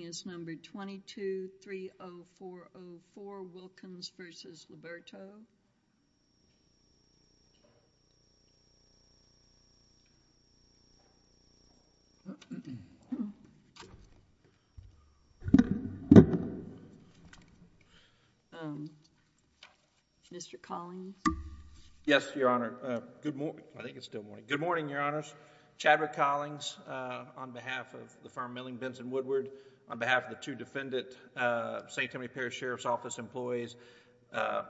is number 22-30404 Wilkins v. Liberto. Mr. Collins. Yes, Your Honor. Good morning. I think it's still morning. Good morning, Your Honors. Chadwick Collins on behalf of the firm Milling, Benson Woodward, on behalf of the two defendant St. Timothy Parish Sheriff's Office employees,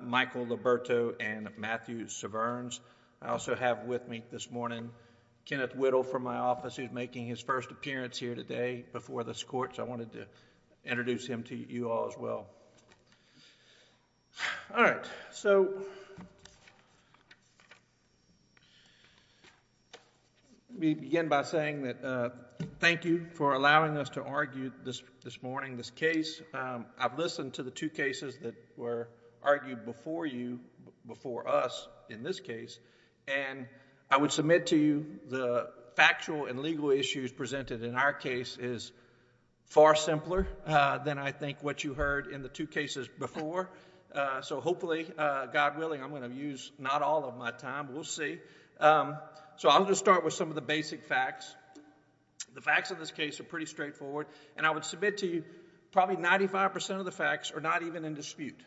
Michael Liberto and Matthew Severns. I also have with me this morning Kenneth Whittle from my office who is making his first appearance here today before this Court, so I wanted to introduce him to you all as well. All right, so let me begin by saying that thank you for allowing us to argue this morning this case. I've listened to the two cases that were argued before you, before us in this case and I would submit to you the factual and legal issues presented in our case is far simpler than I think what you heard in the two cases before, so hopefully, God willing, I'm going to use not all of my time, we'll see. So I'm going to start with some of the basic facts. The facts of this case are pretty straightforward and I would submit to you probably 95% of the facts are not even in dispute.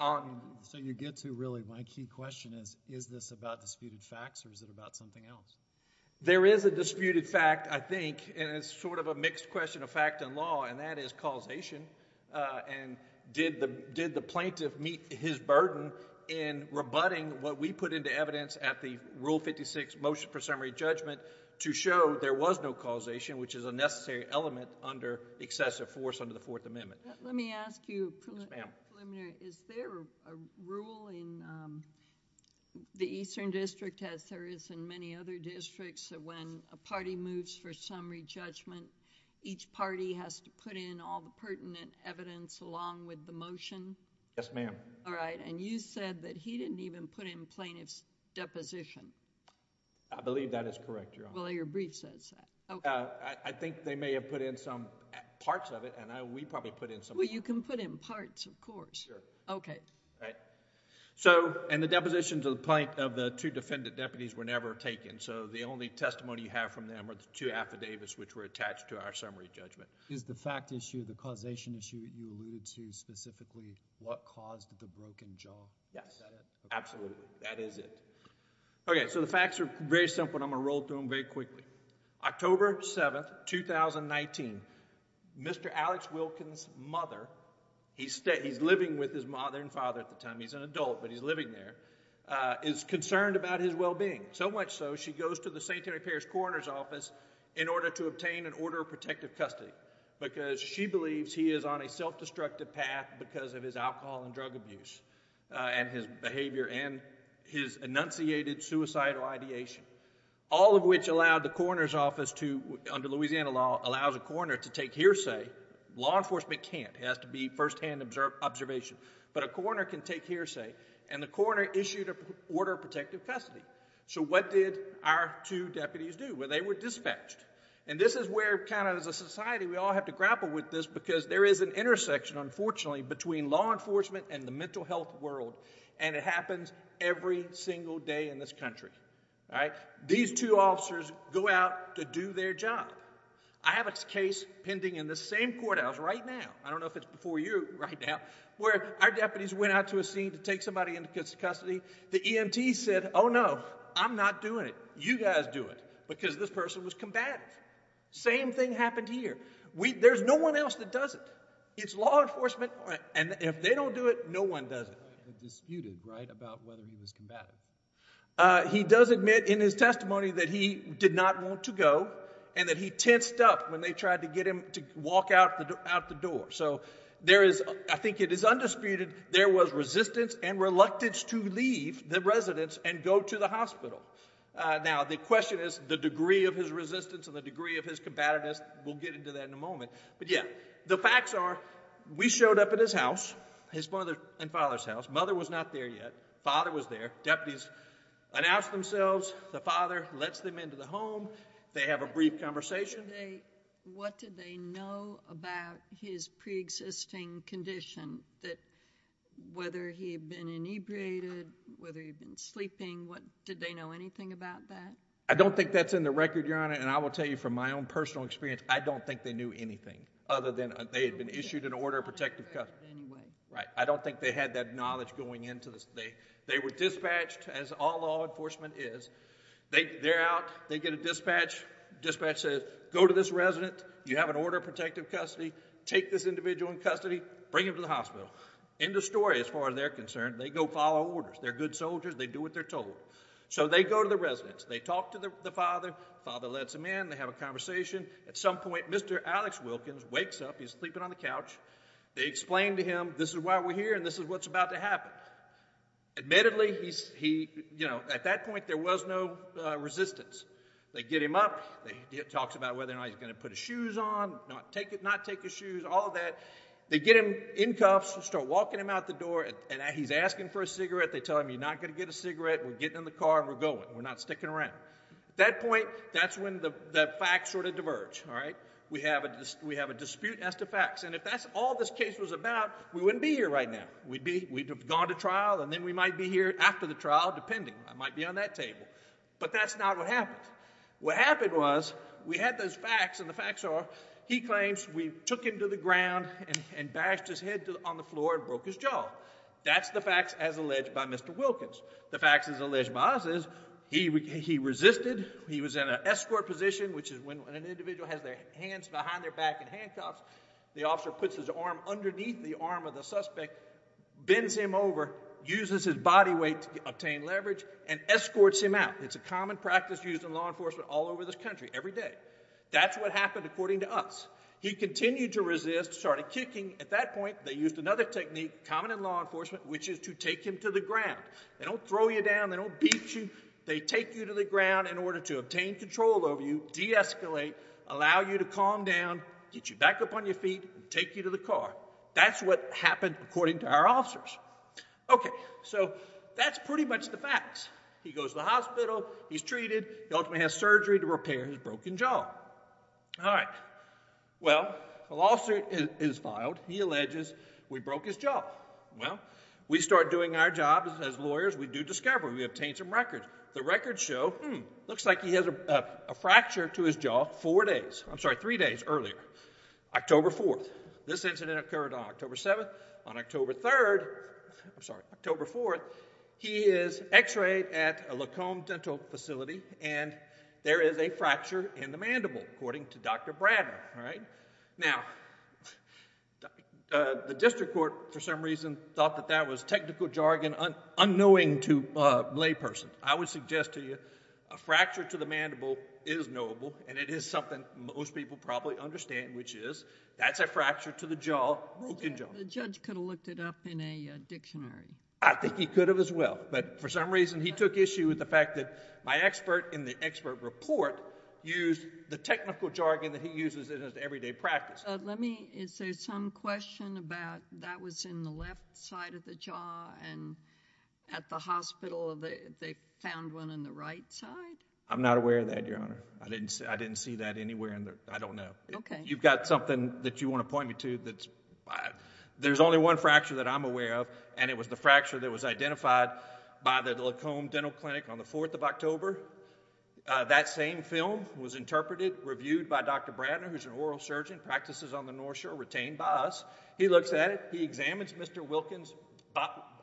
So you get to really my key question is, is this about disputed facts or is it about something else? There is a disputed fact, I think, and it's sort of a mixed question of fact and law and that is causation and did the plaintiff meet his burden in rebutting what we put into evidence at the Rule 56 Motion for Summary Judgment to show there was no causation, which is a necessary element under excessive force under the Fourth Amendment. Let me ask you, Preliminary, is there a rule in the Eastern District as there is in many other districts that when a party moves for summary judgment, each party has to put in all the pertinent evidence along with the motion? Yes, ma'am. All right. And you said that he didn't even put in plaintiff's deposition. I believe that is correct, Your Honor. Well, your brief says that. I think they may have put in some parts of it and we probably put in some... Well, you can put in parts, of course. Sure. Okay. All right. So, and the depositions of the two defendant deputies were never taken, so the only testimony you have from them are the two affidavits which were attached to our summary judgment. Is the fact issue, the causation issue that you alluded to specifically what caused the broken jaw? Yes. Is that it? Absolutely. That is it. Okay. So the facts are very simple and I'm going to roll through them very quickly. October 7th, 2019, Mr. Alex Wilkins' mother, he's living with his mother and father at the time, he's an adult but he's living there, is concerned about his well-being. So much so, she goes to the St. Harry Parish Coroner's Office in order to obtain an order of protective custody because she believes he is on a self-destructive path because of his alcohol and drug abuse and his behavior and his enunciated suicidal ideation, all of which allowed the coroner's office to, under Louisiana law, allows a coroner to take hearsay. Law enforcement can't. It has to be first-hand observation. But a coroner can take hearsay and the coroner issued an order of protective custody. So what did our two deputies do? Well, they were dispatched. And this is where kind of as a society we all have to grapple with this because there is an intersection, unfortunately, between law enforcement and the mental health world and it happens every single day in this country, all right? These two officers go out to do their job. I have a case pending in the same courthouse right now, I don't know if it's before you right now, where our deputies went out to a scene to take somebody into custody. The EMT said, oh no, I'm not doing it, you guys do it, because this person was combative. Same thing happened here. There's no one else that does it. It's law enforcement and if they don't do it, no one does it. He does admit in his testimony that he did not want to go and that he tensed up when they tried to get him to walk out the door. So there is, I think it is undisputed, there was resistance and reluctance to leave the residence and go to the hospital. Now the question is the degree of his resistance and the degree of his combativeness, we'll get into that in a moment, but yeah. The facts are, we showed up at his house, his mother and father's house, mother was not there yet, father was there, deputies announced themselves, the father lets them into the home, they have a brief conversation. What did they know about his pre-existing condition, whether he had been inebriated, whether he had been sleeping, did they know anything about that? I don't think that's in the record, Your Honor, and I will tell you from my own personal experience, I don't think they knew anything other than they had been issued an order of protective custody. Right, I don't think they had that knowledge going into this. They were dispatched as all law enforcement is, they're out, they get a dispatch, dispatch says go to this resident, you have an order of protective custody, take this individual in custody, bring him to the hospital. End of story as far as they're concerned, they go follow orders, they're good soldiers, they do what they're told. So they go to the residence, they talk to the father, father lets them in, they have a conversation. At some point, Mr. Alex Wilkins wakes up, he's sleeping on the couch, they explain to him, this is why we're here and this is what's about to happen. Admittedly, at that point, there was no resistance. They get him up, he talks about whether or not he's going to put his shoes on, not take his shoes, all of that. They get him in cuffs, start walking him out the door, and he's asking for a cigarette, they tell him you're not going to get a cigarette, we're getting in the car, we're going, we're not sticking around. At that point, that's when the facts sort of diverge, all right? We have a dispute as to facts, and if that's all this case was about, we wouldn't be here right now. We'd have gone to trial and then we might be here after the trial, depending, I might be on that table. But that's not what happened. What happened was, we had those facts and the facts are, he claims we took him to the ground and bashed his head on the floor and broke his jaw. That's the facts as alleged by Mr. Wilkins. The facts as alleged by us is, he resisted, he was in an escort position, which is when an individual has their hands behind their back in handcuffs, the officer puts his arm underneath the arm of the suspect, bends him over, uses his body weight to obtain leverage, and escorts him out. It's a common practice used in law enforcement all over this country, every day. That's what happened according to us. He continued to resist, started kicking, at that point they used another technique, common in law enforcement, which is to take him to the ground. They don't throw you down, they don't beat you, they take you to the ground in order to obtain control over you, de-escalate, allow you to calm down, get you back up on your feet and take you to the car. That's what happened according to our officers. Okay, so that's pretty much the facts. He goes to the hospital, he's treated, he ultimately has surgery to repair his broken jaw. Alright, well, the lawsuit is filed, he alleges we broke his jaw. Well, we start doing our job as lawyers, we do discovery, we obtain some records. The records show, hmm, looks like he has a fracture to his jaw four days, I'm sorry, three days earlier, October 4th. This incident occurred on October 7th. On October 3rd, I'm sorry, October 4th, he is x-rayed at a Lacombe Dental Facility and there is a fracture in the mandible, according to Dr. Bradner, alright. Now, the district court for some reason thought that that was technical jargon unknowing to a layperson. I would suggest to you, a fracture to the mandible is knowable and it is something most people probably understand, which is, that's a fracture to the jaw, broken jaw. The judge could have looked it up in a dictionary. I think he could have as well, but for some reason he took issue with the fact that my they practiced. Let me, is there some question about that was in the left side of the jaw and at the hospital they found one in the right side? I'm not aware of that, Your Honor. I didn't see that anywhere, I don't know. You've got something that you want to point me to that's, there's only one fracture that I'm aware of and it was the fracture that was identified by the Lacombe Dental Clinic on the 4th of October. That same film was interpreted, reviewed by Dr. Bradner, who's an oral surgeon, practices on the North Shore, retained by us. He looks at it. He examines Mr. Wilkins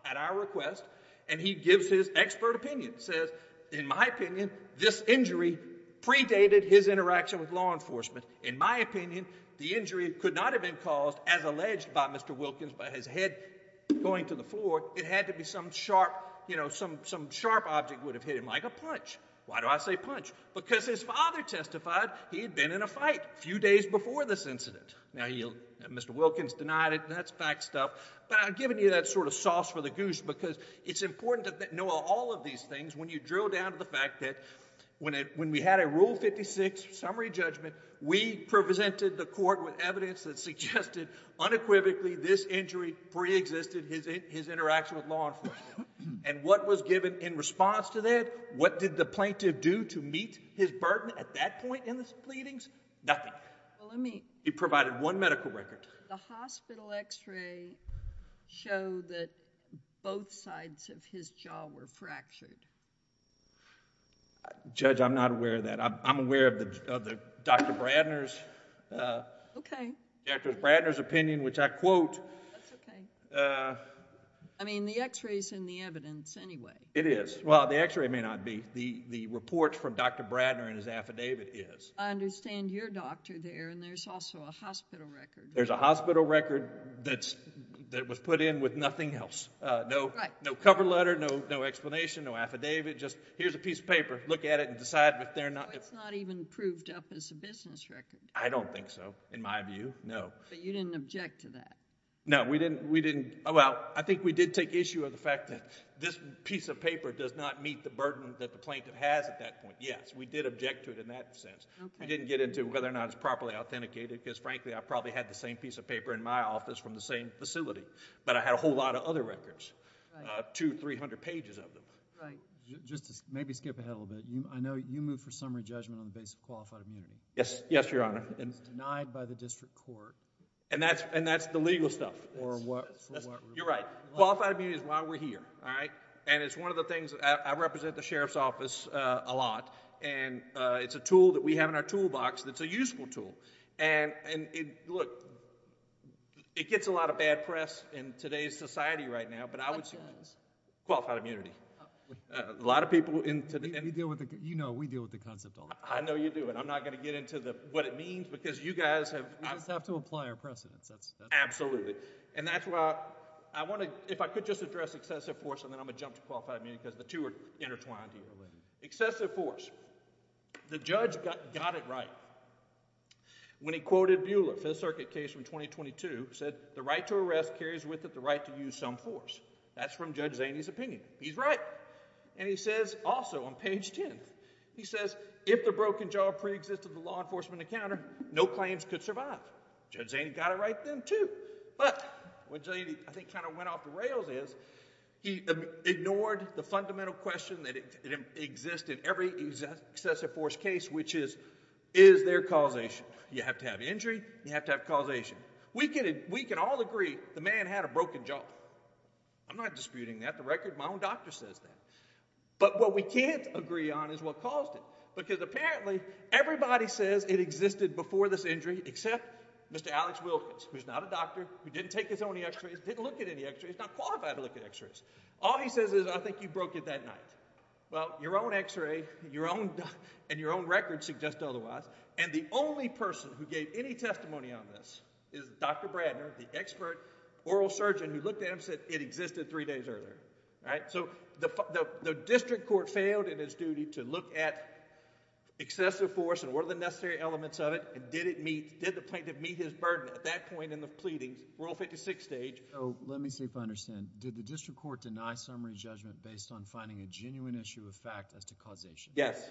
at our request and he gives his expert opinion, says, in my opinion, this injury predated his interaction with law enforcement. In my opinion, the injury could not have been caused as alleged by Mr. Wilkins by his head going to the floor. It had to be some sharp, you know, some sharp object would have hit him, like a punch. Why do I say punch? Because his father testified he had been in a fight a few days before this incident. Now, Mr. Wilkins denied it and that's fact stuff, but I'm giving you that sort of sauce for the goose because it's important to know all of these things when you drill down to the fact that when we had a Rule 56 summary judgment, we presented the court with evidence that suggested unequivocally this injury preexisted his interaction with law enforcement. And what was given in response to that? What did the plaintiff do to meet his burden at that point in his pleadings? Nothing. He provided one medical record. The hospital x-ray showed that both sides of his jaw were fractured. Judge, I'm not aware of that. I'm aware of Dr. Bradner's... Okay. Dr. Bradner's opinion, which I quote... That's okay. I mean, the x-ray's in the evidence anyway. It is. Well, the x-ray may not be. The report from Dr. Bradner and his affidavit is. I understand your doctor there and there's also a hospital record. There's a hospital record that was put in with nothing else. Right. No cover letter, no explanation, no affidavit, just here's a piece of paper. Look at it and decide if they're not... So it's not even proved up as a business record? I don't think so, in my view, no. But you didn't object to that? No, we didn't. We didn't... Well, I think we did take issue of the fact that this piece of paper does not meet the burden that the plaintiff has at that point, yes. We did object to it in that sense. Okay. We didn't get into whether or not it's properly authenticated, because frankly, I probably had the same piece of paper in my office from the same facility, but I had a whole lot of other records, two, three hundred pages of them. Right. Just to maybe skip ahead a little bit, I know you moved for summary judgment on the basis of qualified immunity. Yes. Yes, Your Honor. It's denied by the district court... And that's the legal stuff. For what... You're right. Qualified immunity is why we're here, all right? And it's one of the things... I represent the Sheriff's Office a lot, and it's a tool that we have in our toolbox that's a useful tool, and look, it gets a lot of bad press in today's society right now, but I would say... What does? Qualified immunity. A lot of people... I know you do, and I'm not going to give you... I'm not going to get into what it means, because you guys have... We just have to apply our precedents, that's... Absolutely. And that's why I want to... If I could just address excessive force, and then I'm going to jump to qualified immunity, because the two are intertwined here. Excessive force. The judge got it right when he quoted Buehler, Fifth Circuit case from 2022, said, the right to arrest carries with it the right to use some force. That's from Judge Zaney's opinion. He's right. And he says, also, on page 10, he says, if the broken jaw pre-existed the law enforcement encounter, no claims could survive. Judge Zaney got it right then, too, but what Judge Zaney, I think, kind of went off the rails is, he ignored the fundamental question that exists in every excessive force case, which is, is there causation? You have to have injury, you have to have causation. We can all agree the man had a broken jaw. I'm not disputing that. In fact, the record, my own doctor says that. But what we can't agree on is what caused it, because apparently, everybody says it existed before this injury, except Mr. Alex Wilkins, who's not a doctor, who didn't take his own X-rays, didn't look at any X-rays, not qualified to look at X-rays. All he says is, I think you broke it that night. Well, your own X-ray, your own... and your own record suggests otherwise. And the only person who gave any testimony on this is Dr. Bradner, the expert oral surgeon who looked at it and said it existed three days earlier, right? So the district court failed in its duty to look at excessive force and what are the necessary elements of it, and did it meet, did the plaintiff meet his burden at that point in the pleadings, Rule 56 stage. So, let me see if I understand, did the district court deny summary judgment based on finding a genuine issue of fact as to causation? Yes.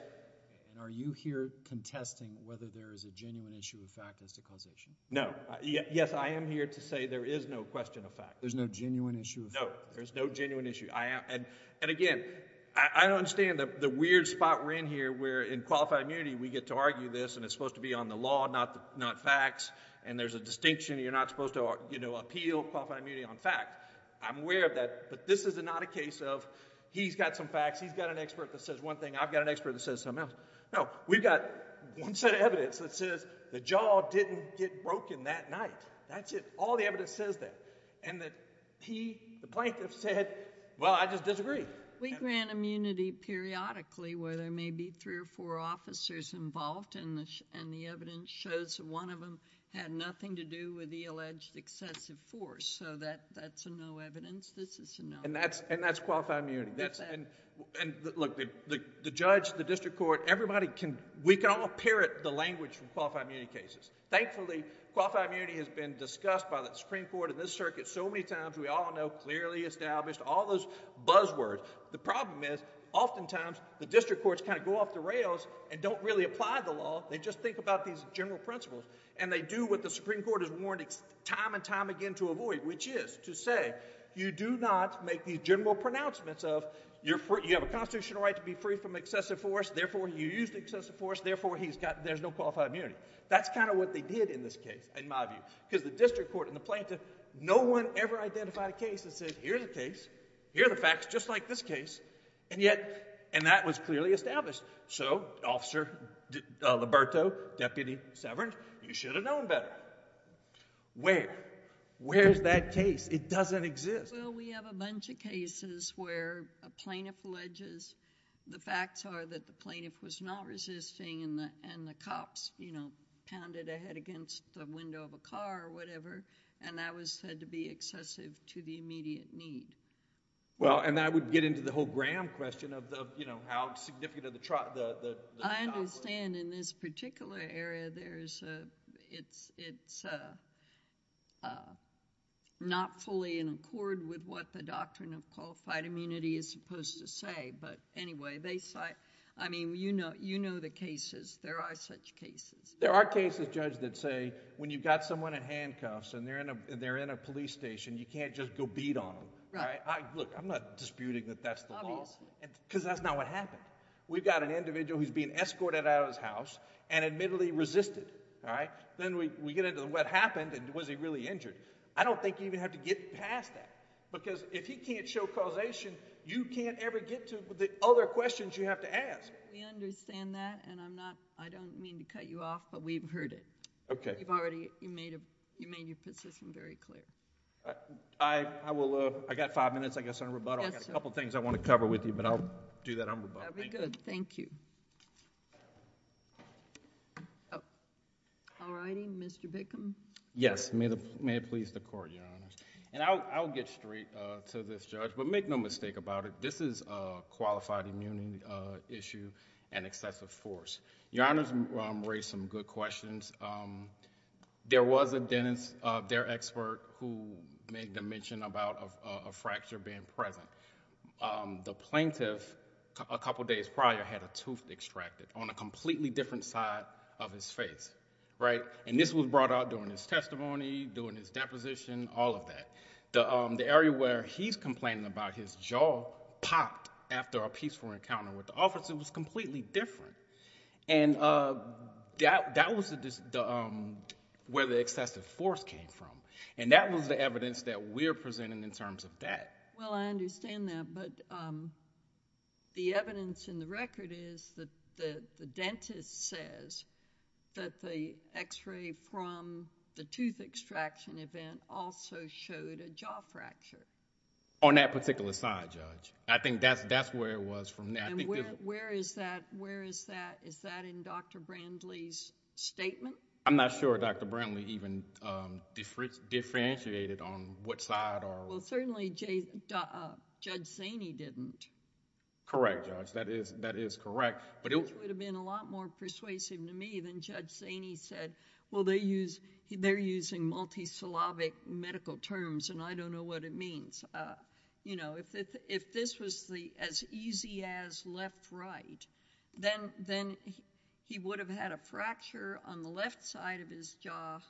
And are you here contesting whether there is a genuine issue of fact as to causation? No. Yes, I am here to say there is no question of fact. There's no genuine issue of fact? No. There's no genuine issue. And again, I don't understand the weird spot we're in here where in qualified immunity we get to argue this and it's supposed to be on the law, not facts, and there's a distinction you're not supposed to appeal qualified immunity on fact. I'm aware of that, but this is not a case of he's got some facts, he's got an expert that says one thing, I've got an expert that says something else. No, we've got one set of evidence that says the jaw didn't get broken that night. That's it. That's it. All the evidence says that. And that he, the plaintiff said, well, I just disagree. We grant immunity periodically where there may be three or four officers involved and the evidence shows that one of them had nothing to do with the alleged excessive force. So that's a no evidence, this is a no evidence. And that's qualified immunity? That's it. And look, the judge, the district court, everybody can... we can all parrot the language from qualified immunity cases. Thankfully, qualified immunity has been discussed by the Supreme Court and this circuit so many times we all know clearly established, all those buzzwords. The problem is oftentimes the district courts kind of go off the rails and don't really apply the law. They just think about these general principles and they do what the Supreme Court has warned time and time again to avoid, which is to say you do not make these general pronouncements of you have a constitutional right to be free from excessive force, therefore you used excessive force, therefore there's no qualified immunity. That's kind of what they did in this case, in my view, because the district court and the plaintiff, no one ever identified a case that said here's a case, here are the facts just like this case, and yet... and that was clearly established. So Officer Liberto, Deputy Severance, you should have known better. Where? Where's that case? It doesn't exist. Well, we have a bunch of cases where a plaintiff alleges the facts are that the plaintiff was not resisting and the cops pounded a head against the window of a car or whatever and that was said to be excessive to the immediate need. Well, and that would get into the whole Graham question of how significant of the... I understand in this particular area it's not fully in accord with what the doctrine of qualified immunity is supposed to say. But anyway, they cite... I mean, you know the cases. There are such cases. There are cases, Judge, that say when you've got someone in handcuffs and they're in a police station, you can't just go beat on them. Right. Look, I'm not disputing that that's the law, because that's not what happened. We've got an individual who's being escorted out of his house and admittedly resisted. Then we get into what happened and was he really injured. I don't think you even have to get past that, because if he can't show causation, you can't ever get to the other questions you have to ask. We understand that and I'm not... I don't mean to cut you off, but we've heard it. Okay. You've already... you made your position very clear. I will... I've got five minutes, I guess, on rebuttal. Yes, sir. I've got a couple of things I want to cover with you, but I'll do that on rebuttal. That would be good. Thank you. All righty. Mr. Bickham. Yes. May it please the Court, Your Honor. I'll get straight to this, Judge, but make no mistake about it. This is a qualified immunity issue and excessive force. Your Honor's raised some good questions. There was a dentist, their expert, who made the mention about a fracture being present. The plaintiff, a couple of days prior, had a tooth extracted on a completely different side of his face, right? This was brought out during his testimony, during his deposition, all of that. The area where he's complaining about his jaw popped after a peaceful encounter with the officer was completely different. That was where the excessive force came from, and that was the evidence that we're presenting in terms of that. Well, I understand that, but the evidence in the record is that the dentist says that the x-ray from the tooth extraction event also showed a jaw fracture. On that particular side, Judge. I think that's where it was from... Where is that? Is that in Dr. Brandley's statement? I'm not sure Dr. Brandley even differentiated on what side or... Well, certainly Judge Zaney didn't. Correct, Judge. That is correct. It would have been a lot more persuasive to me than Judge Zaney said, well, they're using multi-syllabic medical terms, and I don't know what it means. If this was as easy as left-right, then he would have had a fracture on the left side of his jaw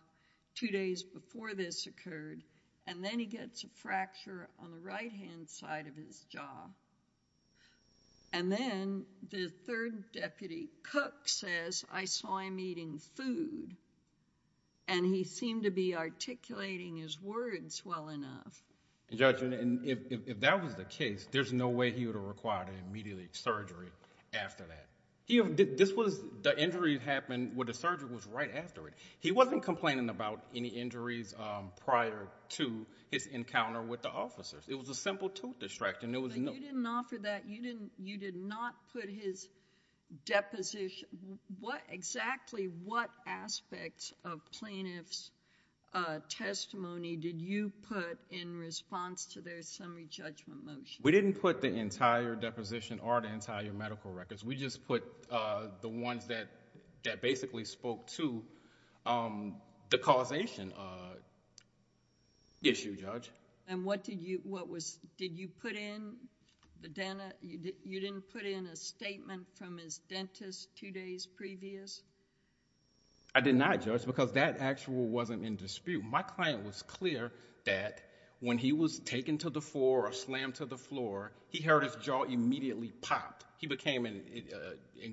two days before this occurred, and then he gets a fracture on the right-hand side of his jaw. Then, the third deputy, Cook, says, I saw him eating food, and he seemed to be articulating his words well enough. Judge, if that was the case, there's no way he would have required an immediate surgery after that. This was... the injury happened when the surgery was right after it. He wasn't complaining about any injuries prior to his encounter with the officers. It was a simple tooth extraction. You didn't offer that. You did not put his deposition... exactly what aspects of plaintiff's testimony did you put in response to their summary judgment motion? We didn't put the entire deposition or the entire medical records. We just put the ones that basically spoke to the causation issue, Judge. What did you... did you put in the... you didn't put in a statement from his dentist two days previous? I did not, Judge, because that actual wasn't in dispute. My client was clear that when he was taken to the floor or slammed to the floor, he heard his jaw immediately popped. He became in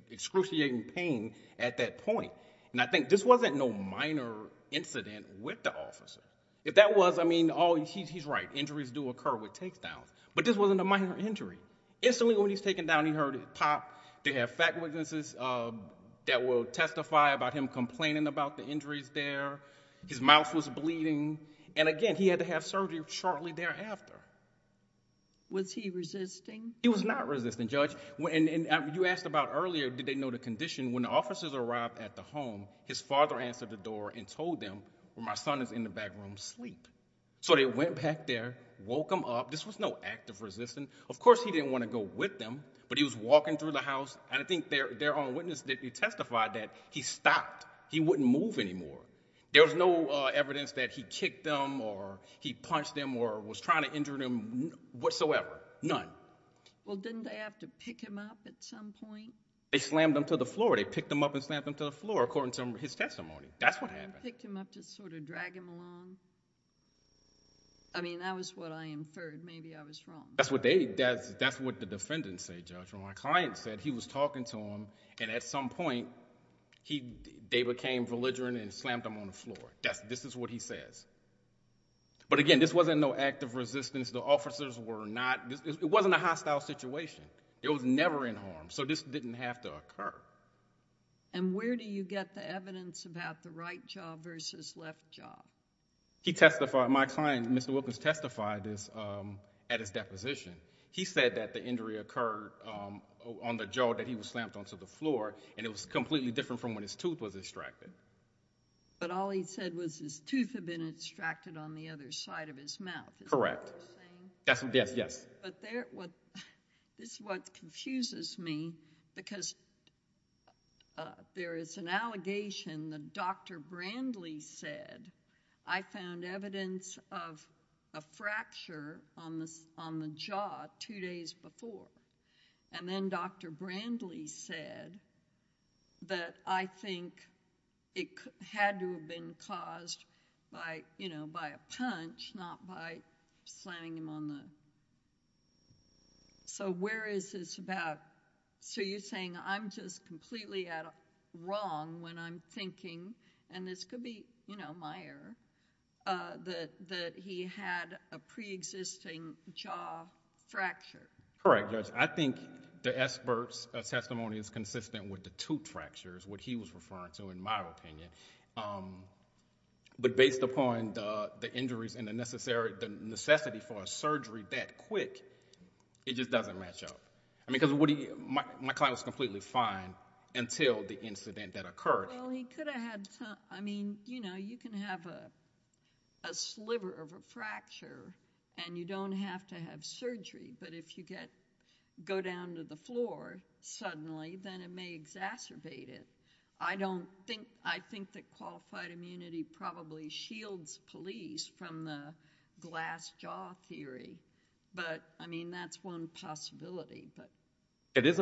excruciating pain at that point. I think this wasn't no minor incident with the officer. If that was, I mean, oh, he's right, injuries do occur with takedowns, but this wasn't a minor injury. Instantly when he's taken down, he heard it pop. They have fact witnesses that will testify about him complaining about the injuries there. His mouth was bleeding, and again, he had to have surgery shortly thereafter. Was he resisting? He was not resisting, Judge. You asked about earlier, did they know the condition? When the officers arrived at the home, his father answered the door and told them, well, my son is in the back room asleep. So they went back there, woke him up. This was no act of resistance. Of course, he didn't want to go with them, but he was walking through the house, and I think their own witness did testify that he stopped. He wouldn't move anymore. There was no evidence that he kicked them or he punched them or was trying to injure them whatsoever. None. Well, didn't they have to pick him up at some point? They slammed him to the floor. They picked him up and slammed him to the floor, according to his testimony. That's what happened. Did they pick him up to sort of drag him along? I mean, that was what I inferred. Maybe I was wrong. That's what the defendants say, Judge. My client said he was talking to them, and at some point, they became belligerent and slammed him on the floor. This is what he says. But again, this wasn't no act of resistance. The officers were not... it wasn't a hostile situation. It was never in harm. I don't know. I don't know. I don't know. I don't know. I don't know. I don't know. He testified. My client, Mr. Wilkins, testified this at his deposition. He said that the injury occurred on the jaw that he was slammed onto the floor, and it was completely different from when his tooth was extracted. But all he said was his tooth had been extracted on the other side of his mouth, is that what he's saying? Correct. Yes, yes. But there... what... this is what confuses me, because there is an allegation that Dr. Brandley said, I found evidence of a fracture on the jaw two days before, and then Dr. Brandley said that I think it had to have been caused by a punch, not by slamming him on the... So where is this about... So you're saying I'm just completely wrong when I'm thinking... and this could be, you know, my error, that he had a preexisting jaw fracture. Correct, Judge. I think the expert's testimony is consistent with the tooth fractures, what he was referring to, in my opinion. But based upon the injuries and the necessity for a surgery that quick, it just doesn't match up. I mean, because my client was completely fine until the incident that occurred. Well, he could have had... I mean, you know, you can have a sliver of a fracture, and you don't have to have surgery, but if you go down to the floor suddenly, then it may exacerbate it. I don't think... I think that qualified immunity probably shields police from the glass jaw theory, but, I mean, that's one possibility, but... If the injury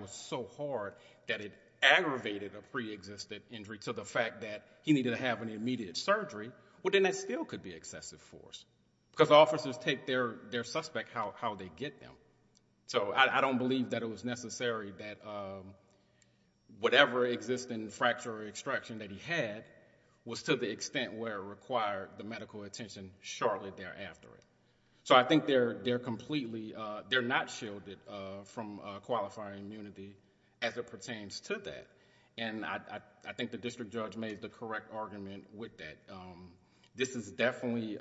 was so hard that it aggravated a preexisted injury to the fact that he needed to have an immediate surgery, well, then that still could be excessive force, because officers take their suspect, how they get them. So I don't believe that it was necessary that whatever existing fracture or extraction that he had was to the extent where it required the medical attention shortly thereafter. So I think they're completely... they're not shielded from qualifying immunity as it pertains to that, and I think the district judge made the correct argument with that. This is definitely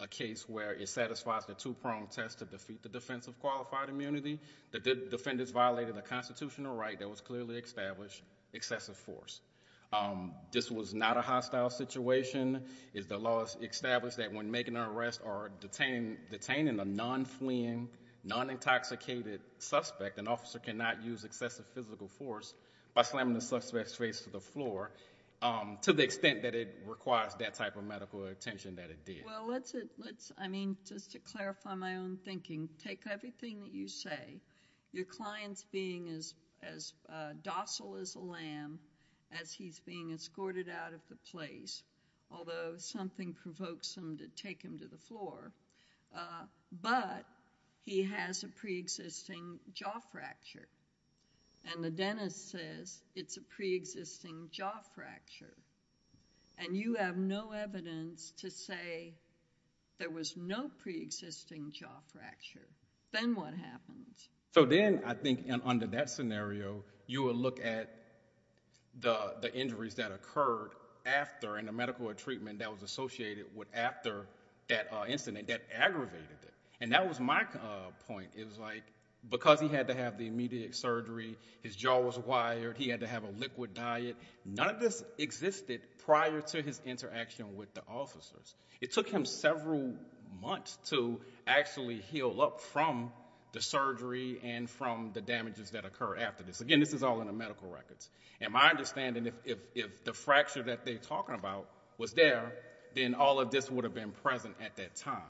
a case where it satisfies the two-pronged test to defeat the defense of qualified immunity, that the defendants violated the constitutional right that was clearly established, excessive force. This was not a hostile situation. It's the law established that when making an arrest or detaining a non-fleeing, non-intoxicated suspect, an officer cannot use excessive physical force by slamming the suspect's face to the floor to the extent that it requires that type of medical attention that it did. Well, let's... I mean, just to clarify my own thinking, take everything that you as he's being escorted out of the place, although something provokes him to take him to the floor, but he has a pre-existing jaw fracture, and the dentist says it's a pre-existing jaw fracture, and you have no evidence to say there was no pre-existing jaw fracture. Then what happens? So then, I think, under that scenario, you would look at the injuries that occurred after in a medical treatment that was associated with after that incident that aggravated it. And that was my point. It was like, because he had to have the immediate surgery, his jaw was wired, he had to have a liquid diet, none of this existed prior to his interaction with the officers. It took him several months to actually heal up from the surgery and from the damages that occurred after this. Again, this is all in the medical records. And my understanding, if the fracture that they're talking about was there, then all of this would have been present at that time.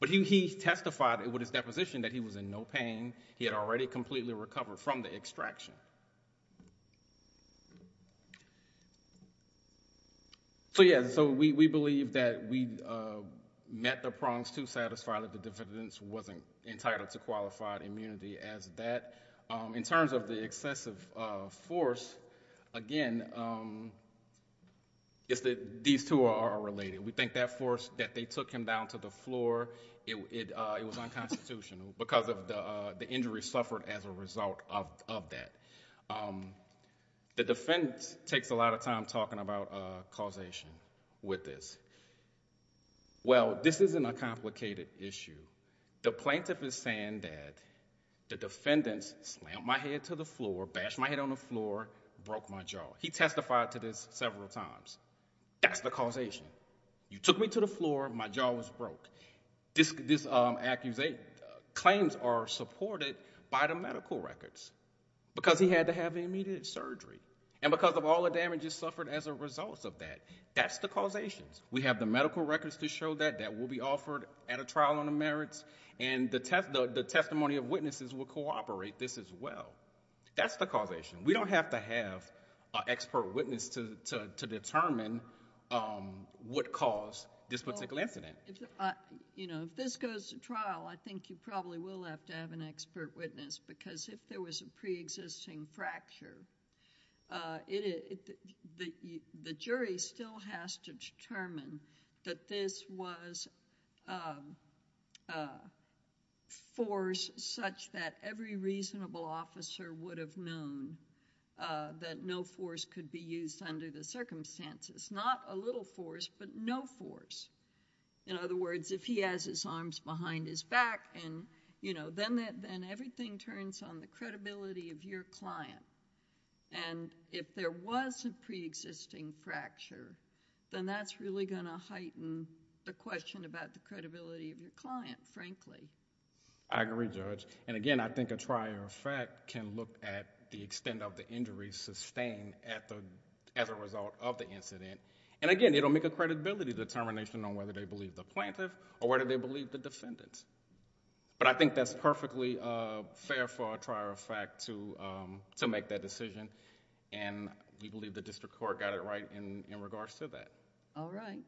But he testified with his deposition that he was in no pain, he had already completely recovered from the extraction. So, yeah, so we believe that we met the prongs to satisfy that the defendant wasn't entitled to qualified immunity as that. In terms of the excessive force, again, it's that these two are related. We think that force, that they took him down to the floor, it was unconstitutional because of the injuries suffered as a result of that. The defendant takes a lot of time talking about causation with this. Well, this isn't a complicated issue. The plaintiff is saying that the defendant slammed my head to the floor, bashed my head on the floor, broke my jaw. He testified to this several times. That's the causation. You took me to the floor, my jaw was broke. These claims are supported by the medical records because he had to have immediate surgery. And because of all the damages suffered as a result of that, that's the causation. We have the medical records to show that, that will be offered at a trial on the merits, and the testimony of witnesses will cooperate this as well. That's the causation. We don't have to have an expert witness to determine what caused this particular incident. If this goes to trial, I think you probably will have to have an expert witness because if there was a pre-existing fracture, the jury still has to determine that this was force such that every reasonable officer would have known that no force could be used under the circumstances. Not a little force, but no force. In other words, if he has his arms behind his back, then everything turns on the credibility of your client. If there was a pre-existing fracture, then that's really going to heighten the question about the credibility of your client, frankly. I agree, Judge. Again, I think a trial, in fact, can look at the extent of the injury sustained as a result of the incident. Again, it will make a credibility determination on whether they believe the plaintiff or whether they believe the defendant. I think that's perfectly fair for a trial, in fact, to make that decision, and we believe the district court got it right in regards to that. All right.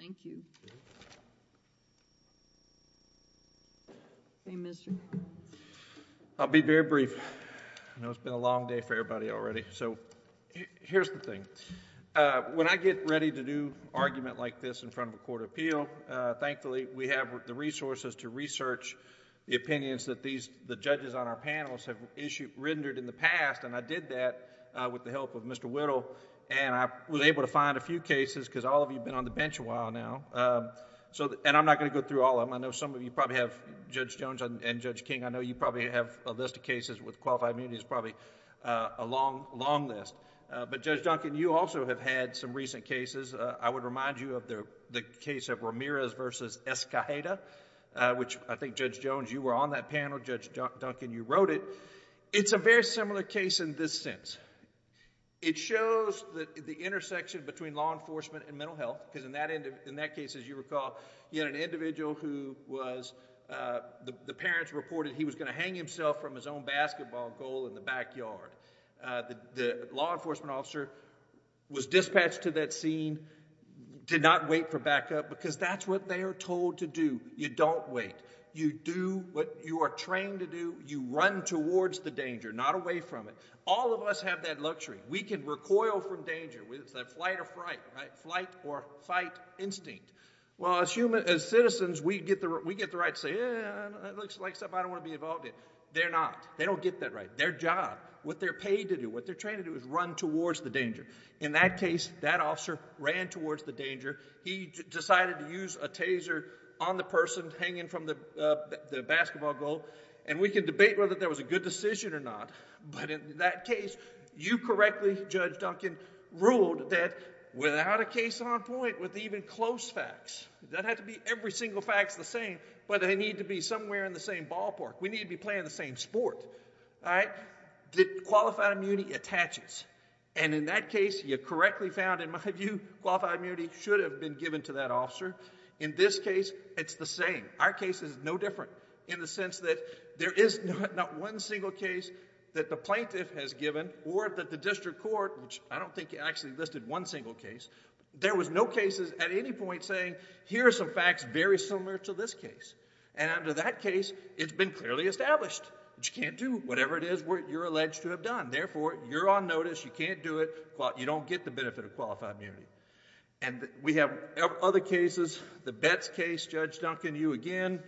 Thank you. Okay, Mr.... I'll be very brief. I know it's been a long day for everybody already, so here's the thing. When I get ready to do an argument like this in front of a court of appeal, thankfully, we have the resources to research the opinions that the judges on our panels have rendered in the past. I did that with the help of Mr. Whittle, and I was able to find a few cases because all of you have been on the bench a while now, and I'm not going to go through all of them. I know some of you probably have... Judge Jones and Judge King, I know you probably have a list of cases with qualified immunities, probably a long, long list, but Judge Duncan, you also have had some recent cases. I would remind you of the case of Ramirez versus Escajeda, which I think, Judge Jones, you were on that panel. Judge Duncan, you wrote it. It's a very similar case in this sense. It shows the intersection between law enforcement and mental health, because in that case, as you recall, you had an individual who was... the parents reported he was going to hang himself from his own basketball goal in the backyard. The law enforcement officer was dispatched to that scene, did not wait for backup, because that's what they are told to do. You don't wait. You do what you are trained to do. You run towards the danger, not away from it. All of us have that luxury. We can recoil from danger. It's that flight or fright, right? Flight or fight instinct. Well, as citizens, we get the right to say, yeah, it looks like stuff I don't want to be involved in. They're not. They don't get that right. It's their job. What they're paid to do, what they're trained to do is run towards the danger. In that case, that officer ran towards the danger. He decided to use a taser on the person hanging from the basketball goal. We can debate whether that was a good decision or not, but in that case, you correctly, Judge Duncan, ruled that without a case on point with even close facts, that had to be every single fact is the same, but they need to be somewhere in the same ballpark. We need to be playing the same sport, all right, that qualified immunity attaches. In that case, you correctly found, in my view, qualified immunity should have been given to that officer. In this case, it's the same. Our case is no different in the sense that there is not one single case that the plaintiff has given or that the district court, which I don't think actually listed one single case, there was no cases at any point saying, here are some facts very similar to this case. Under that case, it's been clearly established, you can't do whatever it is you're alleged to have done. Therefore, you're on notice. You can't do it. You don't get the benefit of qualified immunity. We have other cases. The Betz case, Judge Duncan, you again.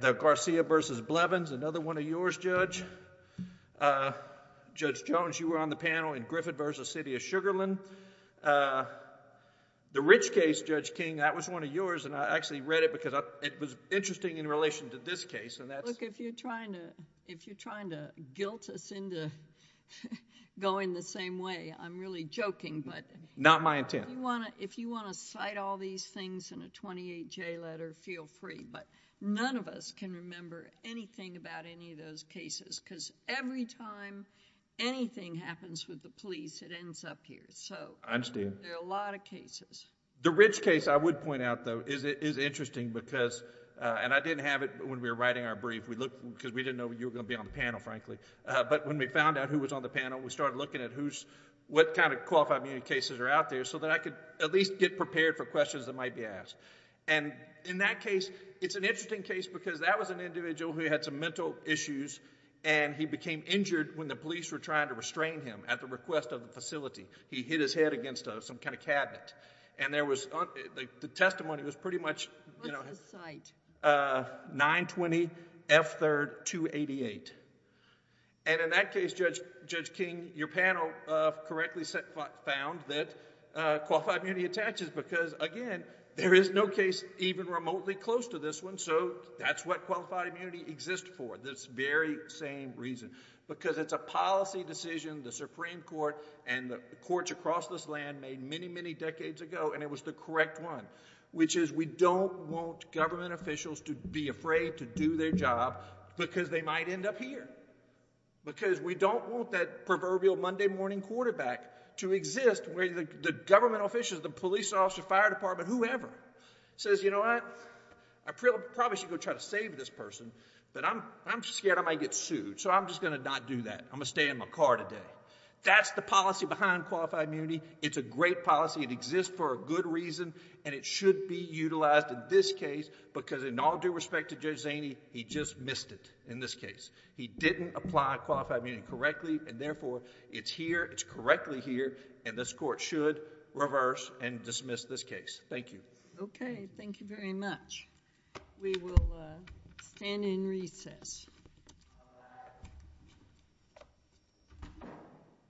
The Garcia v. Blevins, another one of yours, Judge. Judge Jones, you were on the panel in Griffith v. City of Sugarland. The Rich case, Judge King, that was one of yours and I actually read it because it was interesting in relation to this case and that's... Look, if you're trying to guilt us into going the same way, I'm really joking, but... Not my intent. If you want to cite all these things in a 28-J letter, feel free, but none of us can remember anything about any of those cases because every time anything happens with the case, so... I understand. There are a lot of cases. The Rich case, I would point out though, is interesting because... and I didn't have it when we were writing our brief because we didn't know you were going to be on the panel frankly, but when we found out who was on the panel, we started looking at what kind of qualified immunity cases are out there so that I could at least get prepared for questions that might be asked. In that case, it's an interesting case because that was an individual who had some mental issues and he became injured when the police were trying to restrain him at the request of the facility. He hit his head against some kind of cabinet and there was... the testimony was pretty much... What's the site? 920 F3rd 288. In that case, Judge King, your panel correctly found that qualified immunity attaches because again, there is no case even remotely close to this one so that's what qualified immunity exists for, this very same reason because it's a policy decision the Supreme Court and the courts across this land made many, many decades ago and it was the correct one, which is we don't want government officials to be afraid to do their job because they might end up here. Because we don't want that proverbial Monday morning quarterback to exist where the government officials, the police officer, fire department, whoever says, you know what, I probably should go try to save this person but I'm scared I might get sued so I'm just going to not do that. I'm going to stay in my car today. That's the policy behind qualified immunity. It's a great policy. It exists for a good reason and it should be utilized in this case because in all due respect to Judge Zaney, he just missed it in this case. He didn't apply qualified immunity correctly and therefore it's here, it's correctly here and this court should reverse and dismiss this case. Thank you. Okay. Thank you very much. We will stand in recess.